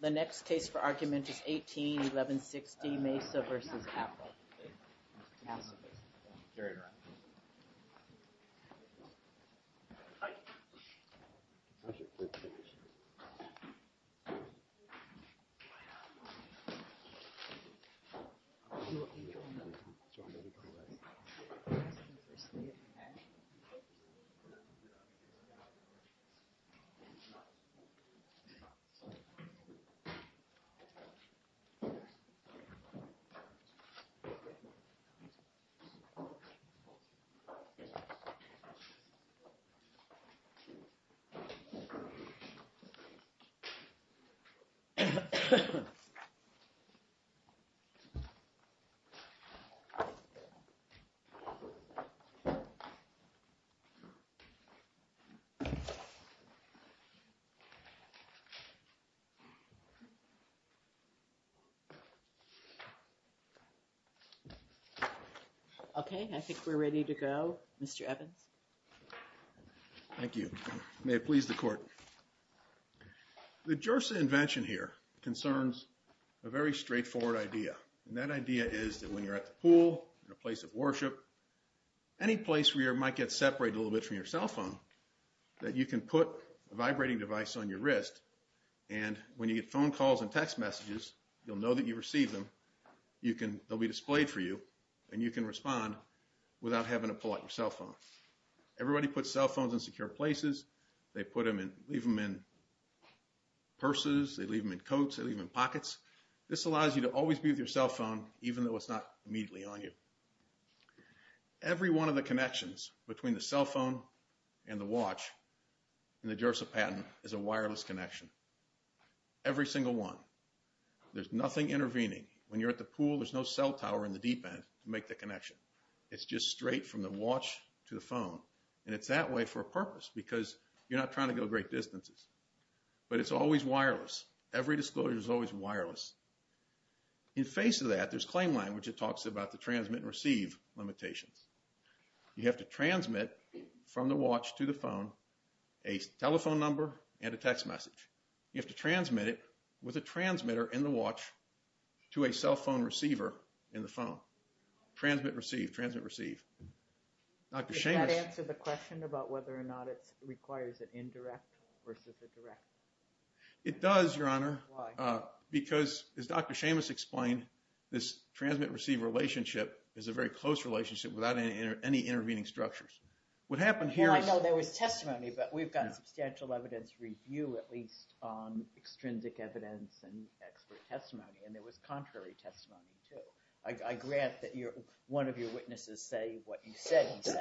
The next case for argument is 18-1160 Mesa v. Apple. This case is 18-1160 Mesa v. Apple. Okay, I think we're ready to go. Mr. Evans. Thank you. May it please the court. The JIRSA invention here concerns a very straightforward idea. And that idea is that when you're at the pool, in a place of worship, any place where you might get separated a little bit from your cell phone, that you can put a vibrating device on your wrist. And when you get phone calls and text messages, you'll know that you received them. They'll be displayed for you, and you can respond without having to pull out your cell phone. Everybody puts cell phones in secure places. They leave them in purses. They leave them in coats. They leave them in pockets. This allows you to always be with your cell phone, even though it's not immediately on you. Every one of the connections between the cell phone and the watch in the JIRSA patent is a wireless connection. Every single one. There's nothing intervening. When you're at the pool, there's no cell tower in the deep end to make the connection. It's just straight from the watch to the phone. And it's that way for a purpose, because you're not trying to go great distances. But it's always wireless. Every disclosure is always wireless. In face of that, there's claim language that talks about the transmit and receive limitations. You have to transmit from the watch to the phone a telephone number and a text message. You have to transmit it with a transmitter in the watch to a cell phone receiver in the phone. Transmit, receive. Transmit, receive. Does that answer the question about whether or not it requires an indirect versus a direct? It does, Your Honor. Why? Because, as Dr. Seamus explained, this transmit-receive relationship is a very close relationship without any intervening structures. What happened here is… Well, I know there was testimony, but we've got substantial evidence review, at least on extrinsic evidence and expert testimony. And there was contrary testimony, too. I grant that one of your witnesses say what you said he said,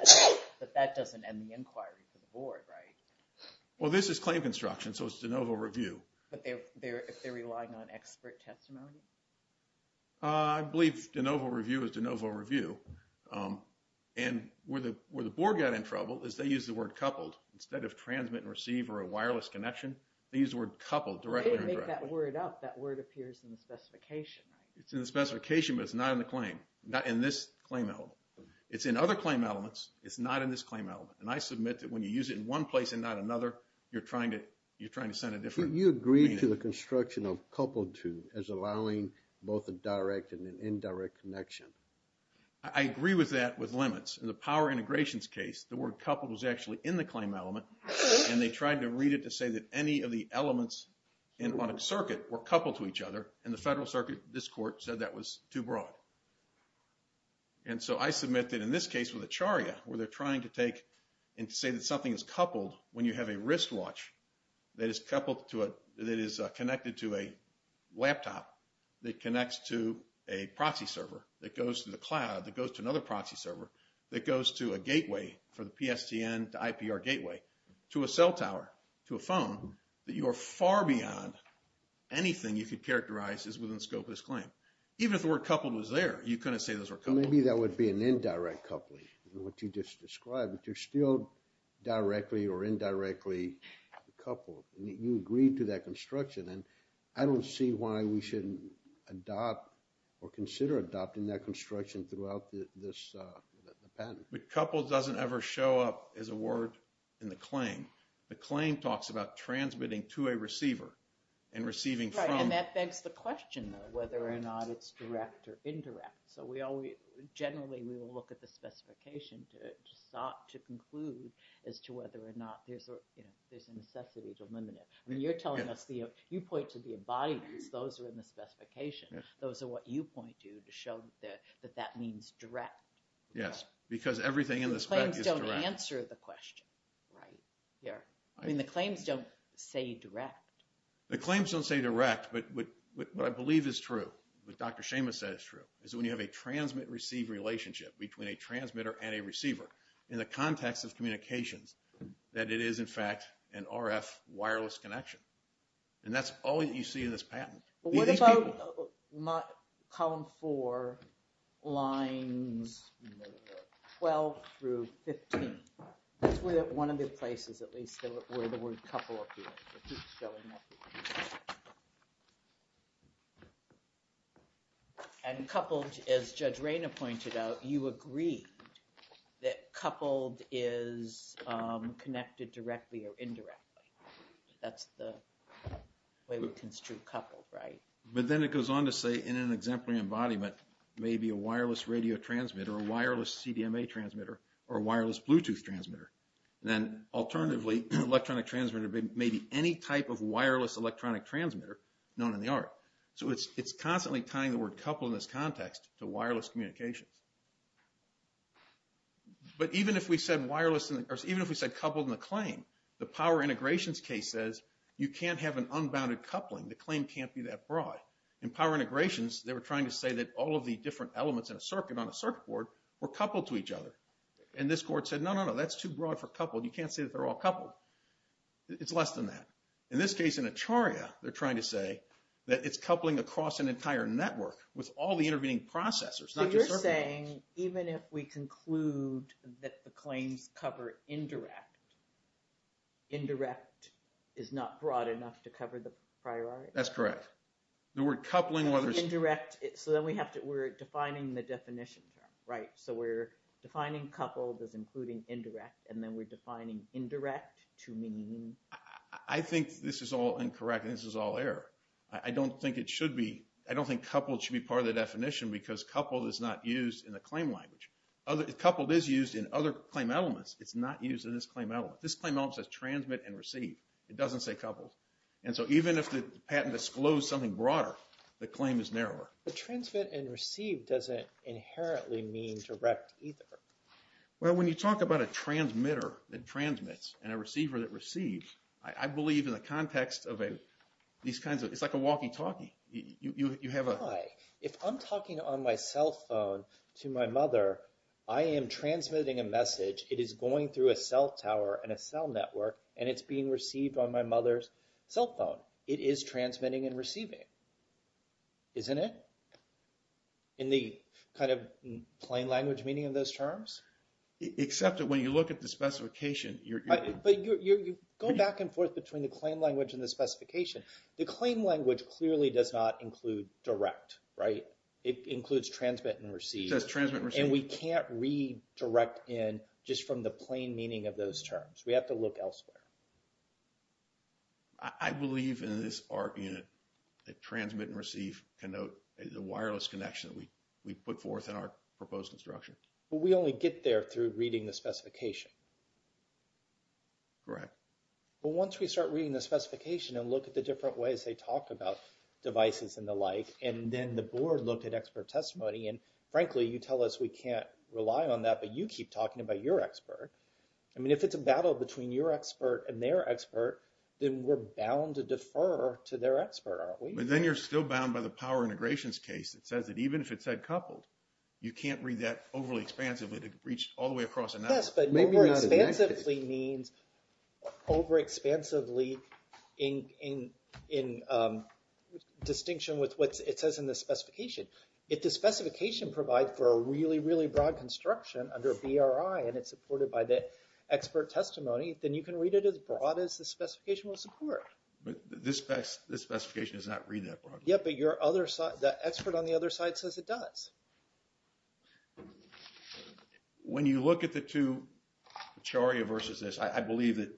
but that doesn't end the inquiry for the board, right? Well, this is claim construction, so it's de novo review. But they're relying on expert testimony? I believe de novo review is de novo review. And where the board got in trouble is they used the word coupled. Instead of transmit and receive or a wireless connection, they used the word coupled directly or indirectly. They didn't make that word up. That word appears in the specification, right? It's in the specification, but it's not in the claim. Not in this claim element. It's in other claim elements. It's not in this claim element. And I submit that when you use it in one place and not another, you're trying to send a different… You agree to the construction of coupled to as allowing both a direct and an indirect connection? I agree with that with limits. In the power integrations case, the word coupled was actually in the claim element. And they tried to read it to say that any of the elements on a circuit were coupled to each other. And the federal circuit, this court, said that was too broad. And so I submit that in this case with Acharya, where they're trying to take and say that something is coupled when you have a wristwatch that is connected to a laptop that connects to a proxy server that goes to the cloud, that goes to another proxy server, that goes to a gateway for the PSTN to IPR gateway, to a cell tower, to a phone, that you are far beyond anything you could characterize as within the scope of this claim. Even if the word coupled was there, you couldn't say those were coupled. Maybe that would be an indirect coupling, what you just described. But you're still directly or indirectly coupled. You agreed to that construction. And I don't see why we shouldn't adopt or consider adopting that construction throughout this patent. But coupled doesn't ever show up as a word in the claim. The claim talks about transmitting to a receiver and receiving from… Whether or not it's direct or indirect. So generally, we will look at the specification to conclude as to whether or not there's a necessity to limit it. I mean, you're telling us, you point to the embodiments. Those are in the specification. Those are what you point to to show that that means direct. Yes, because everything in the spec is direct. The claims don't answer the question, right? I mean, the claims don't say direct. The claims don't say direct, but what I believe is true, what Dr. Schama said is true, is that when you have a transmit-receive relationship between a transmitter and a receiver, in the context of communications, that it is, in fact, an RF wireless connection. And that's all that you see in this patent. What about column four, lines 12 through 15? That's one of the places, at least, where the word couple appears. And coupled, as Judge Rayna pointed out, you agree that coupled is connected directly or indirectly. That's the way we construe coupled, right? But then it goes on to say, in an exemplary embodiment, maybe a wireless radio transmitter, a wireless CDMA transmitter, or a wireless Bluetooth transmitter. Then, alternatively, an electronic transmitter may be any type of wireless electronic transmitter known in the art. So it's constantly tying the word couple in this context to wireless communications. But even if we said coupled in the claim, the power integrations case says, you can't have an unbounded coupling. The claim can't be that broad. In power integrations, they were trying to say that all of the different elements in a circuit, on a circuit board, were coupled to each other. And this court said, no, no, no, that's too broad for coupled. You can't say that they're all coupled. It's less than that. In this case, in Acharya, they're trying to say that it's coupling across an entire network with all the intervening processors, not just circuits. So you're saying, even if we conclude that the claims cover indirect, indirect is not broad enough to cover the priority? That's correct. The word coupling, whether it's... Indirect, so then we have to, we're defining the definition term, right? So we're defining coupled as including indirect, and then we're defining indirect to mean? I think this is all incorrect, and this is all error. I don't think it should be, I don't think coupled should be part of the definition because coupled is not used in the claim language. Coupled is used in other claim elements. It's not used in this claim element. This claim element says transmit and receive. It doesn't say coupled. And so even if the patent disclosed something broader, the claim is narrower. But transmit and receive doesn't inherently mean direct either. Well, when you talk about a transmitter that transmits and a receiver that receives, I believe in the context of these kinds of, it's like a walkie-talkie. You have a... Why? If I'm talking on my cell phone to my mother, I am transmitting a message. It is going through a cell tower and a cell network, and it's being received on my mother's cell phone. It is transmitting and receiving, isn't it? In the kind of plain language meaning of those terms? Except that when you look at the specification, you're... But you're going back and forth between the claim language and the specification. The claim language clearly does not include direct, right? It includes transmit and receive. It does transmit and receive. And we can't read direct in just from the plain meaning of those terms. We have to look elsewhere. I believe in this argument that transmit and receive can note the wireless connection that we put forth in our proposed instruction. But we only get there through reading the specification. Correct. But once we start reading the specification and look at the different ways they talk about devices and the like, and then the board looked at expert testimony, and frankly, you tell us we can't rely on that, but you keep talking about your expert. I mean, if it's a battle between your expert and their expert, then we're bound to defer to their expert, aren't we? But then you're still bound by the power integrations case. It says that even if it said coupled, you can't read that overly expansively to reach all the way across analysis. Yes, but over expansively means over expansively in distinction with what it says in the specification. If the specification provides for a really, really broad construction under BRI, and it's supported by the expert testimony, then you can read it as broad as the specification will support. But this specification does not read that broad. Yes, but your other side, the expert on the other side says it does. When you look at the two, CHARIA versus this, I believe that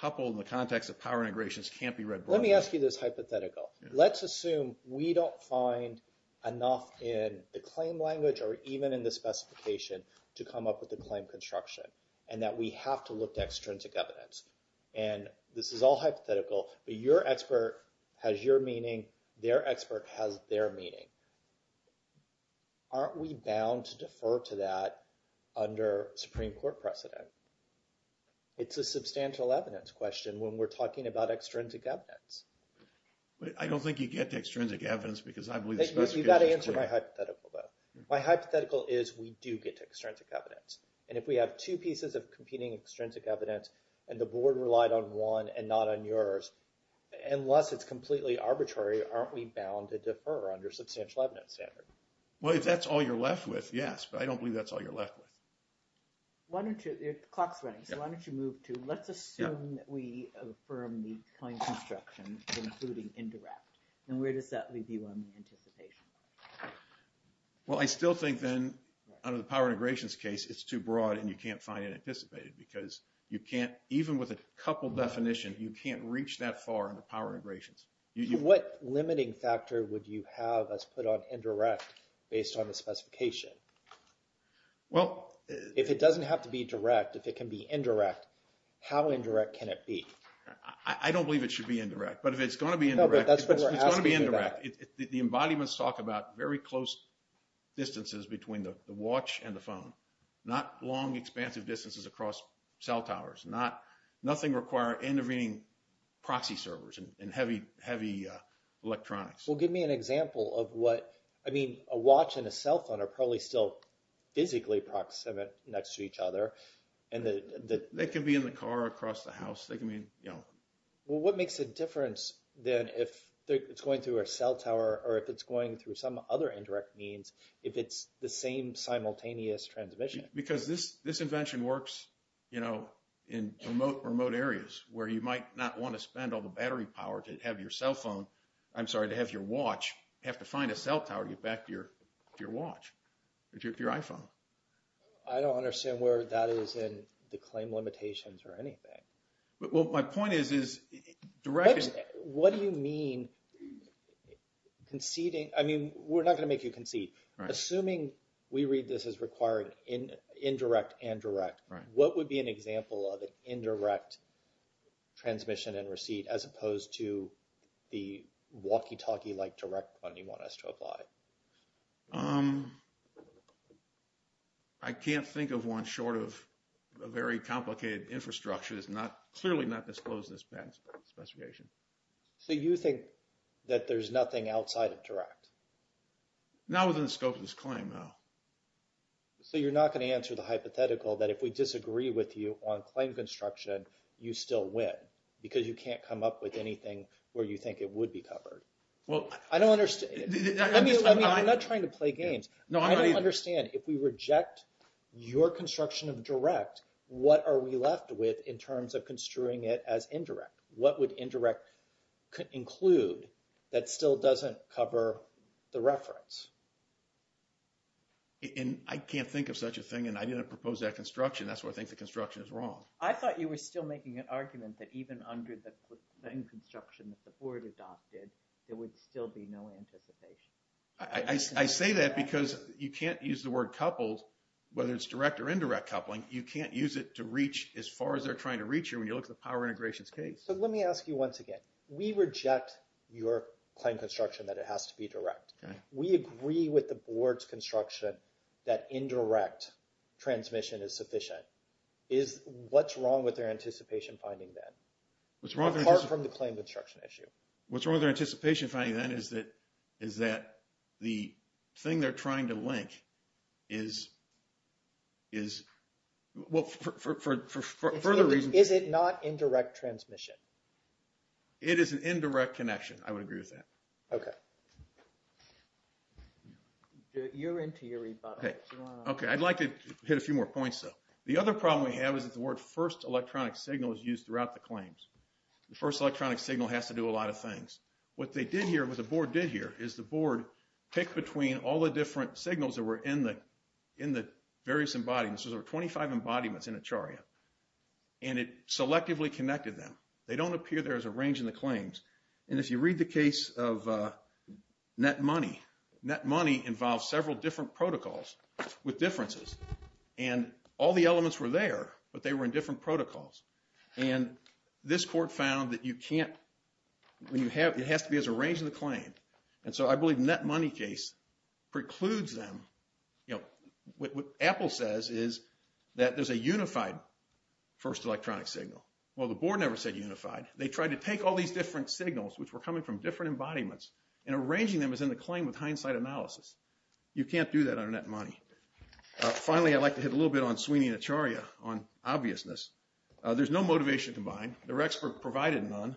coupled in the context of power integrations can't be read broadly. Let me ask you this hypothetical. Let's assume we don't find enough in the claim language or even in the specification to come up with the claim construction, and that we have to look to extrinsic evidence. And this is all hypothetical, but your expert has your meaning. Their expert has their meaning. Aren't we bound to defer to that under Supreme Court precedent? It's a substantial evidence question when we're talking about extrinsic evidence. But I don't think you get to extrinsic evidence because I believe the specification is clear. You've got to answer my hypothetical, though. My hypothetical is we do get to extrinsic evidence. And if we have two pieces of competing extrinsic evidence and the board relied on one and not on yours, unless it's completely arbitrary, aren't we bound to defer under substantial evidence standard? Well, if that's all you're left with, yes. But I don't believe that's all you're left with. The clock's running, so why don't you move to let's assume that we affirm the claim construction, including indirect. And where does that leave you on the anticipation? Well, I still think then under the power integrations case, it's too broad and you can't find it anticipated because you can't, even with a couple definition, you can't reach that far in the power integrations. What limiting factor would you have as put on indirect based on the specification? Well, if it doesn't have to be direct, if it can be indirect, how indirect can it be? I don't believe it should be indirect. But if it's going to be indirect, it's going to be indirect. The embodiments talk about very close distances between the watch and the phone, not long expansive distances across cell towers, nothing require intervening proxy servers and heavy electronics. Well, give me an example of what, I mean, a watch and a cell phone are probably still physically proximate next to each other. They can be in the car or across the house. Well, what makes a difference then if it's going through a cell tower or if it's going through some other indirect means, if it's the same simultaneous transmission? Because this invention works in remote areas where you might not want to spend all the battery power to have your cell phone, I'm sorry, to have your watch, have to find a cell tower to get back to your watch or to your iPhone. I don't understand where that is in the claim limitations or anything. Well, my point is, is direct... What do you mean conceding? I mean, we're not going to make you concede. Assuming we read this as requiring indirect and direct, what would be an example of an indirect transmission and receipt as opposed to the walkie-talkie like direct one you want us to apply? I can't think of one short of a very complicated infrastructure that's clearly not disclosed in this patent specification. So you think that there's nothing outside of direct? Not within the scope of this claim, no. So you're not going to answer the hypothetical that if we disagree with you on claim construction, you still win because you can't come up with anything where you think it would be covered. Well, I don't understand. I mean, I'm not trying to play games. I don't understand. If we reject your construction of direct, what are we left with in terms of construing it as indirect? What would indirect include that still doesn't cover the reference? And I can't think of such a thing, and I didn't propose that construction. That's where I think the construction is wrong. I thought you were still making an argument that even under the claim construction that the board adopted, there would still be no anticipation. I say that because you can't use the word coupled, whether it's direct or indirect coupling. You can't use it to reach as far as they're trying to reach you when you look at the power integrations case. So let me ask you once again. We reject your claim construction that it has to be direct. We agree with the board's construction that indirect transmission is sufficient. What's wrong with their anticipation finding then? Apart from the claim construction issue. What's wrong with their anticipation finding then is that the thing they're trying to link is, well, for further reasons. Is it not indirect transmission? It is an indirect connection. I would agree with that. Okay. You're into your rebuttal. Okay. I'd like to hit a few more points, though. The other problem we have is that the word first electronic signal is used throughout the claims. The first electronic signal has to do a lot of things. What the board did here is the board picked between all the different signals that were in the various embodiments. There were 25 embodiments in a chariot, and it selectively connected them. They don't appear there as a range in the claims. And if you read the case of net money, net money involves several different protocols with differences. And all the elements were there, but they were in different protocols. And this court found that you can't – it has to be as a range in the claim. And so I believe the net money case precludes them. You know, what Apple says is that there's a unified first electronic signal. Well, the board never said unified. They tried to take all these different signals, which were coming from different embodiments, and arranging them as in the claim with hindsight analysis. You can't do that on net money. Finally, I'd like to hit a little bit on Sweeney and Acharya on obviousness. There's no motivation combined. Their expert provided none.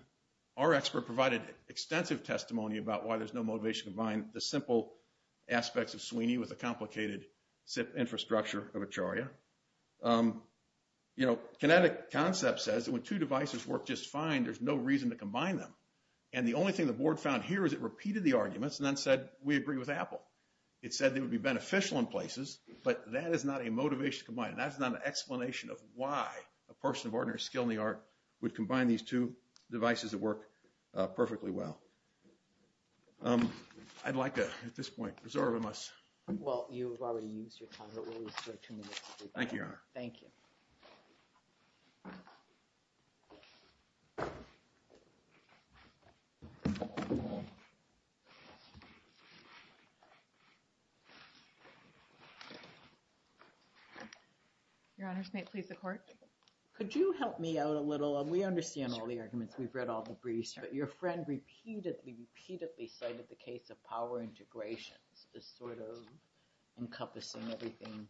Our expert provided extensive testimony about why there's no motivation combined, the simple aspects of Sweeney with the complicated infrastructure of Acharya. You know, kinetic concept says that when two devices work just fine, there's no reason to combine them. And the only thing the board found here is it repeated the arguments and then said, we agree with Apple. It said they would be beneficial in places, but that is not a motivation combined. That is not an explanation of why a person of ordinary skill in the art would combine these two devices that work perfectly well. I'd like to, at this point, reserve a must. Well, you've already used your time. Thank you, Your Honor. Thank you. Your Honor, may it please the court? Could you help me out a little? We understand all the arguments. We've read all the briefs. Your friend repeatedly, repeatedly cited the case of power integrations as sort of encompassing everything,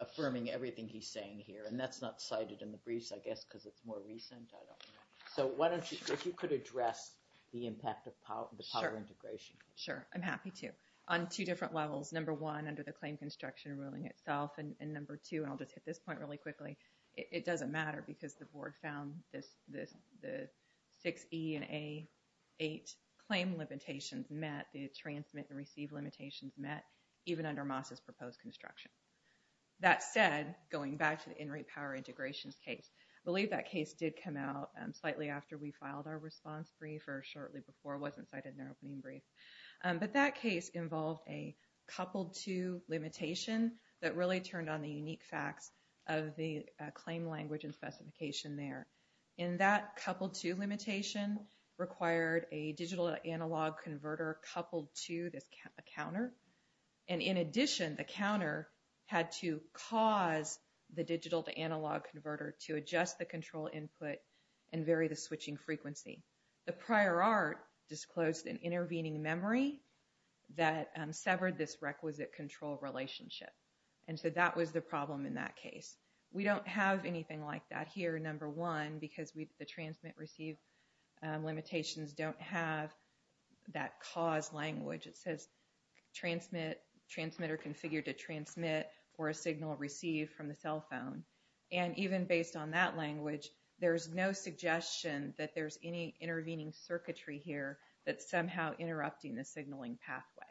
affirming everything he's saying here. And that's not cited in the briefs, I guess, because it's more recent. I don't know. So why don't you, if you could address the impact of the power integration. Sure. I'm happy to. On two different levels. Number one, under the claim construction ruling itself. And number two, and I'll just hit this point really quickly, it doesn't matter because the board found the 6E and A8 claim limitations met. The transmit and receive limitations met, even under Moss's proposed construction. That said, going back to the in-rate power integrations case, I believe that case did come out slightly after we filed our response brief or shortly before. It wasn't cited in our opening brief. But that case involved a coupled-to limitation that really turned on the unique facts of the claim language and specification there. And that coupled-to limitation required a digital-to-analog converter coupled to a counter. And in addition, the counter had to cause the digital-to-analog converter to adjust the control input and vary the switching frequency. The prior art disclosed an intervening memory that severed this requisite control relationship. And so that was the problem in that case. We don't have anything like that here, number one, because the transmit-receive limitations don't have that cause language. It says transmit, transmit or configure to transmit, or a signal received from the cell phone. And even based on that language, there's no suggestion that there's any intervening circuitry here that's somehow interrupting the signaling pathway.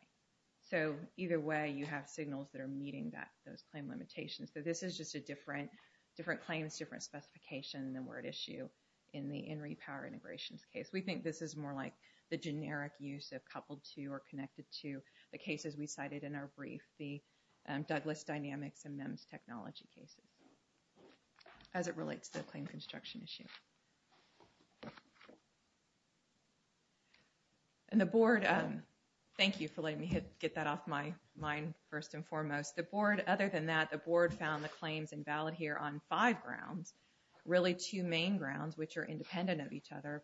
So either way, you have signals that are meeting those claim limitations. So this is just a different claims, different specification than were at issue in the in-rate power integrations case. We think this is more like the generic use of coupled-to or connected-to. The cases we cited in our brief, the Douglas Dynamics and MEMS technology cases, as it relates to the claim construction issue. And the board, thank you for letting me get that off my mind first and foremost. The board, other than that, the board found the claims invalid here on five grounds, really two main grounds, which are independent of each other.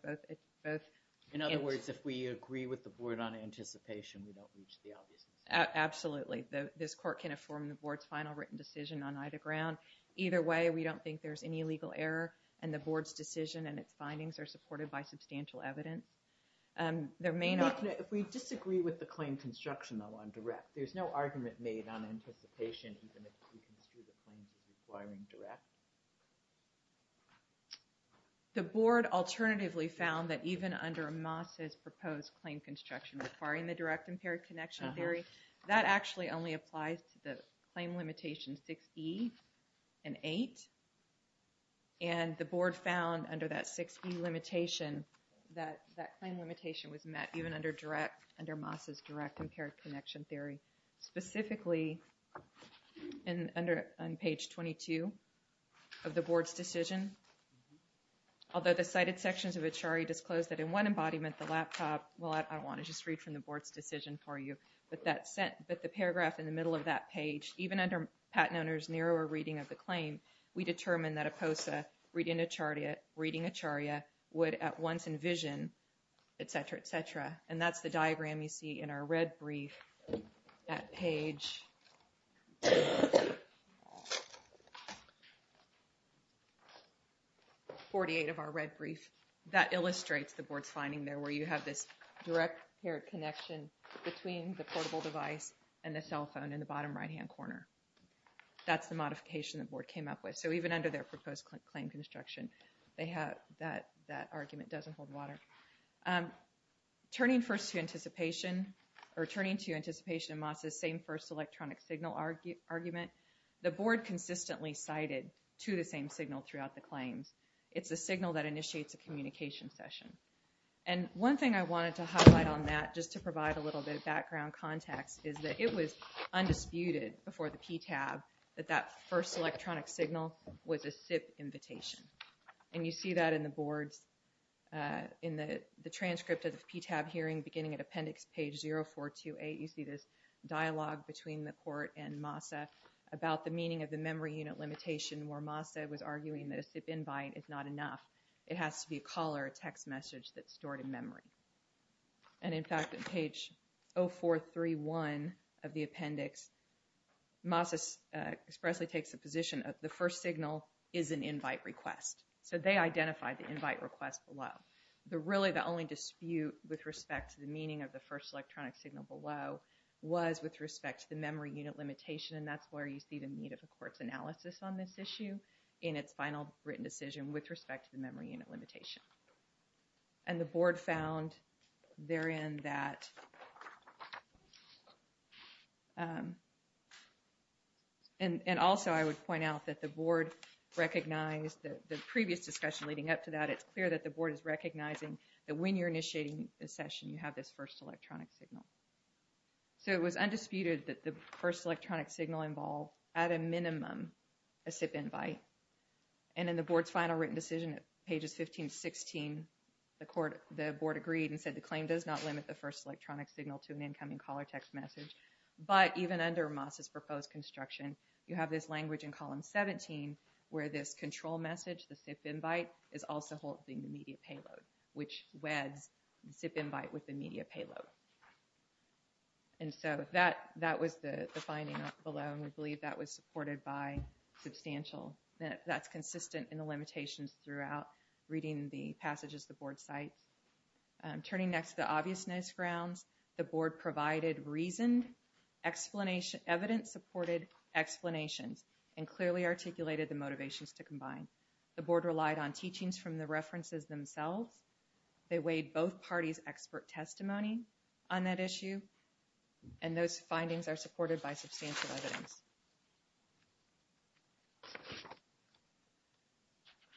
In other words, if we agree with the board on anticipation, we don't reach the obvious. Absolutely. This court can inform the board's final written decision on either ground. Either way, we don't think there's any legal error, and the board's decision and its findings are supported by substantial evidence. If we disagree with the claim construction on direct, there's no argument made on anticipation, even if we construe the claims as requiring direct? The board alternatively found that even under Moss's proposed claim construction requiring the direct impaired connection theory, that actually only applies to the claim limitation 6E and 8. And the board found under that 6E limitation that that claim limitation was met, even under Moss's direct impaired connection theory. Specifically, on page 22 of the board's decision, although the cited sections of Achari disclose that in one embodiment, the laptop, well, I don't want to just read from the board's decision for you, but the paragraph in the middle of that page, even under Pat Noner's narrower reading of the claim, we determine that a POSA reading Acharya would at once envision, etc., etc. And that's the diagram you see in our red brief at page 48 of our red brief. That illustrates the board's finding there where you have this direct connection between the portable device and the cell phone in the bottom right-hand corner. That's the modification the board came up with. So even under their proposed claim construction, they have that argument doesn't hold water. Turning first to anticipation or turning to anticipation of Moss's same first electronic signal argument, the board consistently cited to the same signal throughout the claims. It's a signal that initiates a communication session. And one thing I wanted to highlight on that, just to provide a little bit of background context, is that it was undisputed before the PTAB that that first electronic signal was a SIP invitation. And you see that in the board's, in the transcript of the PTAB hearing beginning at appendix page 0428, you see this dialogue between the court and MOSSA about the meaning of the memory unit limitation, where MOSSA was arguing that a SIP invite is not enough. It has to be a caller, a text message that's stored in memory. And in fact, on page 0431 of the appendix, MOSSA expressly takes the position that the first signal is an invite request. So they identified the invite request below. Really, the only dispute with respect to the meaning of the first electronic signal below was with respect to the memory unit limitation, and that's where you see the need of a court's analysis on this issue in its final written decision with respect to the memory unit limitation. And the board found therein that, and also I would point out that the board recognized that the previous discussion leading up to that, it's clear that the board is recognizing that when you're initiating a session, you have this first electronic signal. So it was undisputed that the first electronic signal involved, at a minimum, a SIP invite. And in the board's final written decision at pages 15 to 16, the board agreed and said the claim does not limit the first electronic signal to an incoming caller text message. But even under MOSSA's proposed construction, you have this language in column 17 where this control message, the SIP invite, is also holding the media payload, which weds the SIP invite with the media payload. And so that was the finding below, and we believe that was supported by substantial, that's consistent in the limitations throughout reading the passages the board cites. Turning next to the obviousness grounds, the board provided reasoned, evidence-supported explanations and clearly articulated the motivations to combine. The board relied on teachings from the references themselves. They weighed both parties' expert testimony on that issue, and those findings are supported by substantial evidence.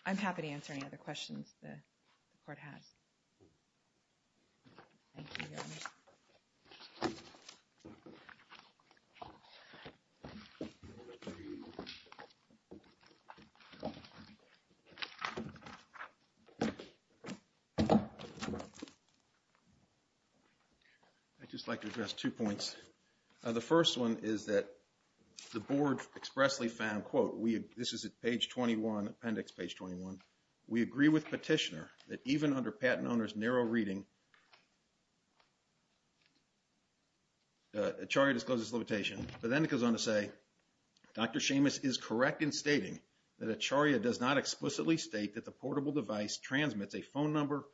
I'm happy to answer any other questions the board has. Thank you, Governor. I'd just like to address two points. The first one is that the board expressly found, quote, this is at page 21, appendix page 21, we agree with petitioner that even under patent owner's narrow reading, Acharya discloses limitation. But then it goes on to say, Dr. Seamus is correct in stating that Acharya does not explicitly state that the portable device transmits a phone number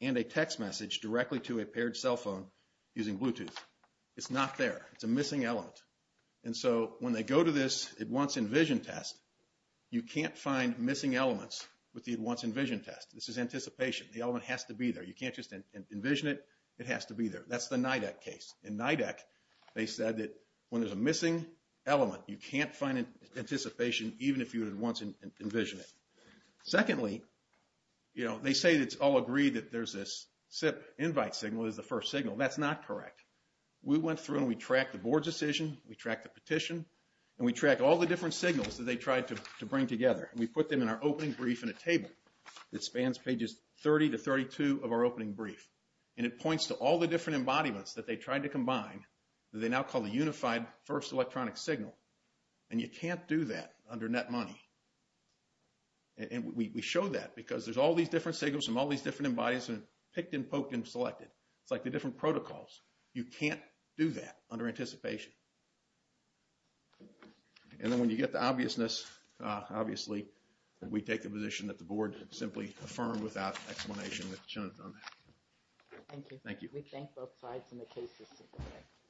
and a text message directly to a paired cell phone using Bluetooth. It's not there. It's a missing element. And so when they go to this at once envision test, you can't find missing elements with the at once envision test. This is anticipation. The element has to be there. You can't just envision it. It has to be there. That's the NIDAC case. In NIDAC, they said that when there's a missing element, you can't find anticipation even if you at once envision it. Secondly, you know, they say it's all agreed that there's this SIP invite signal is the first signal. That's not correct. We went through and we tracked the board's decision, we tracked the petition, and we tracked all the different signals that they tried to bring together. And we put them in our opening brief in a table that spans pages 30 to 32 of our opening brief. And it points to all the different embodiments that they tried to combine that they now call the unified first electronic signal. And you can't do that under net money. And we show that because there's all these different signals from all these different embodiments picked and poked and selected. It's like the different protocols. You can't do that under anticipation. And then when you get the obviousness, obviously, we take the position that the board simply affirmed without explanation. Thank you. Thank you. We thank both sides and the cases.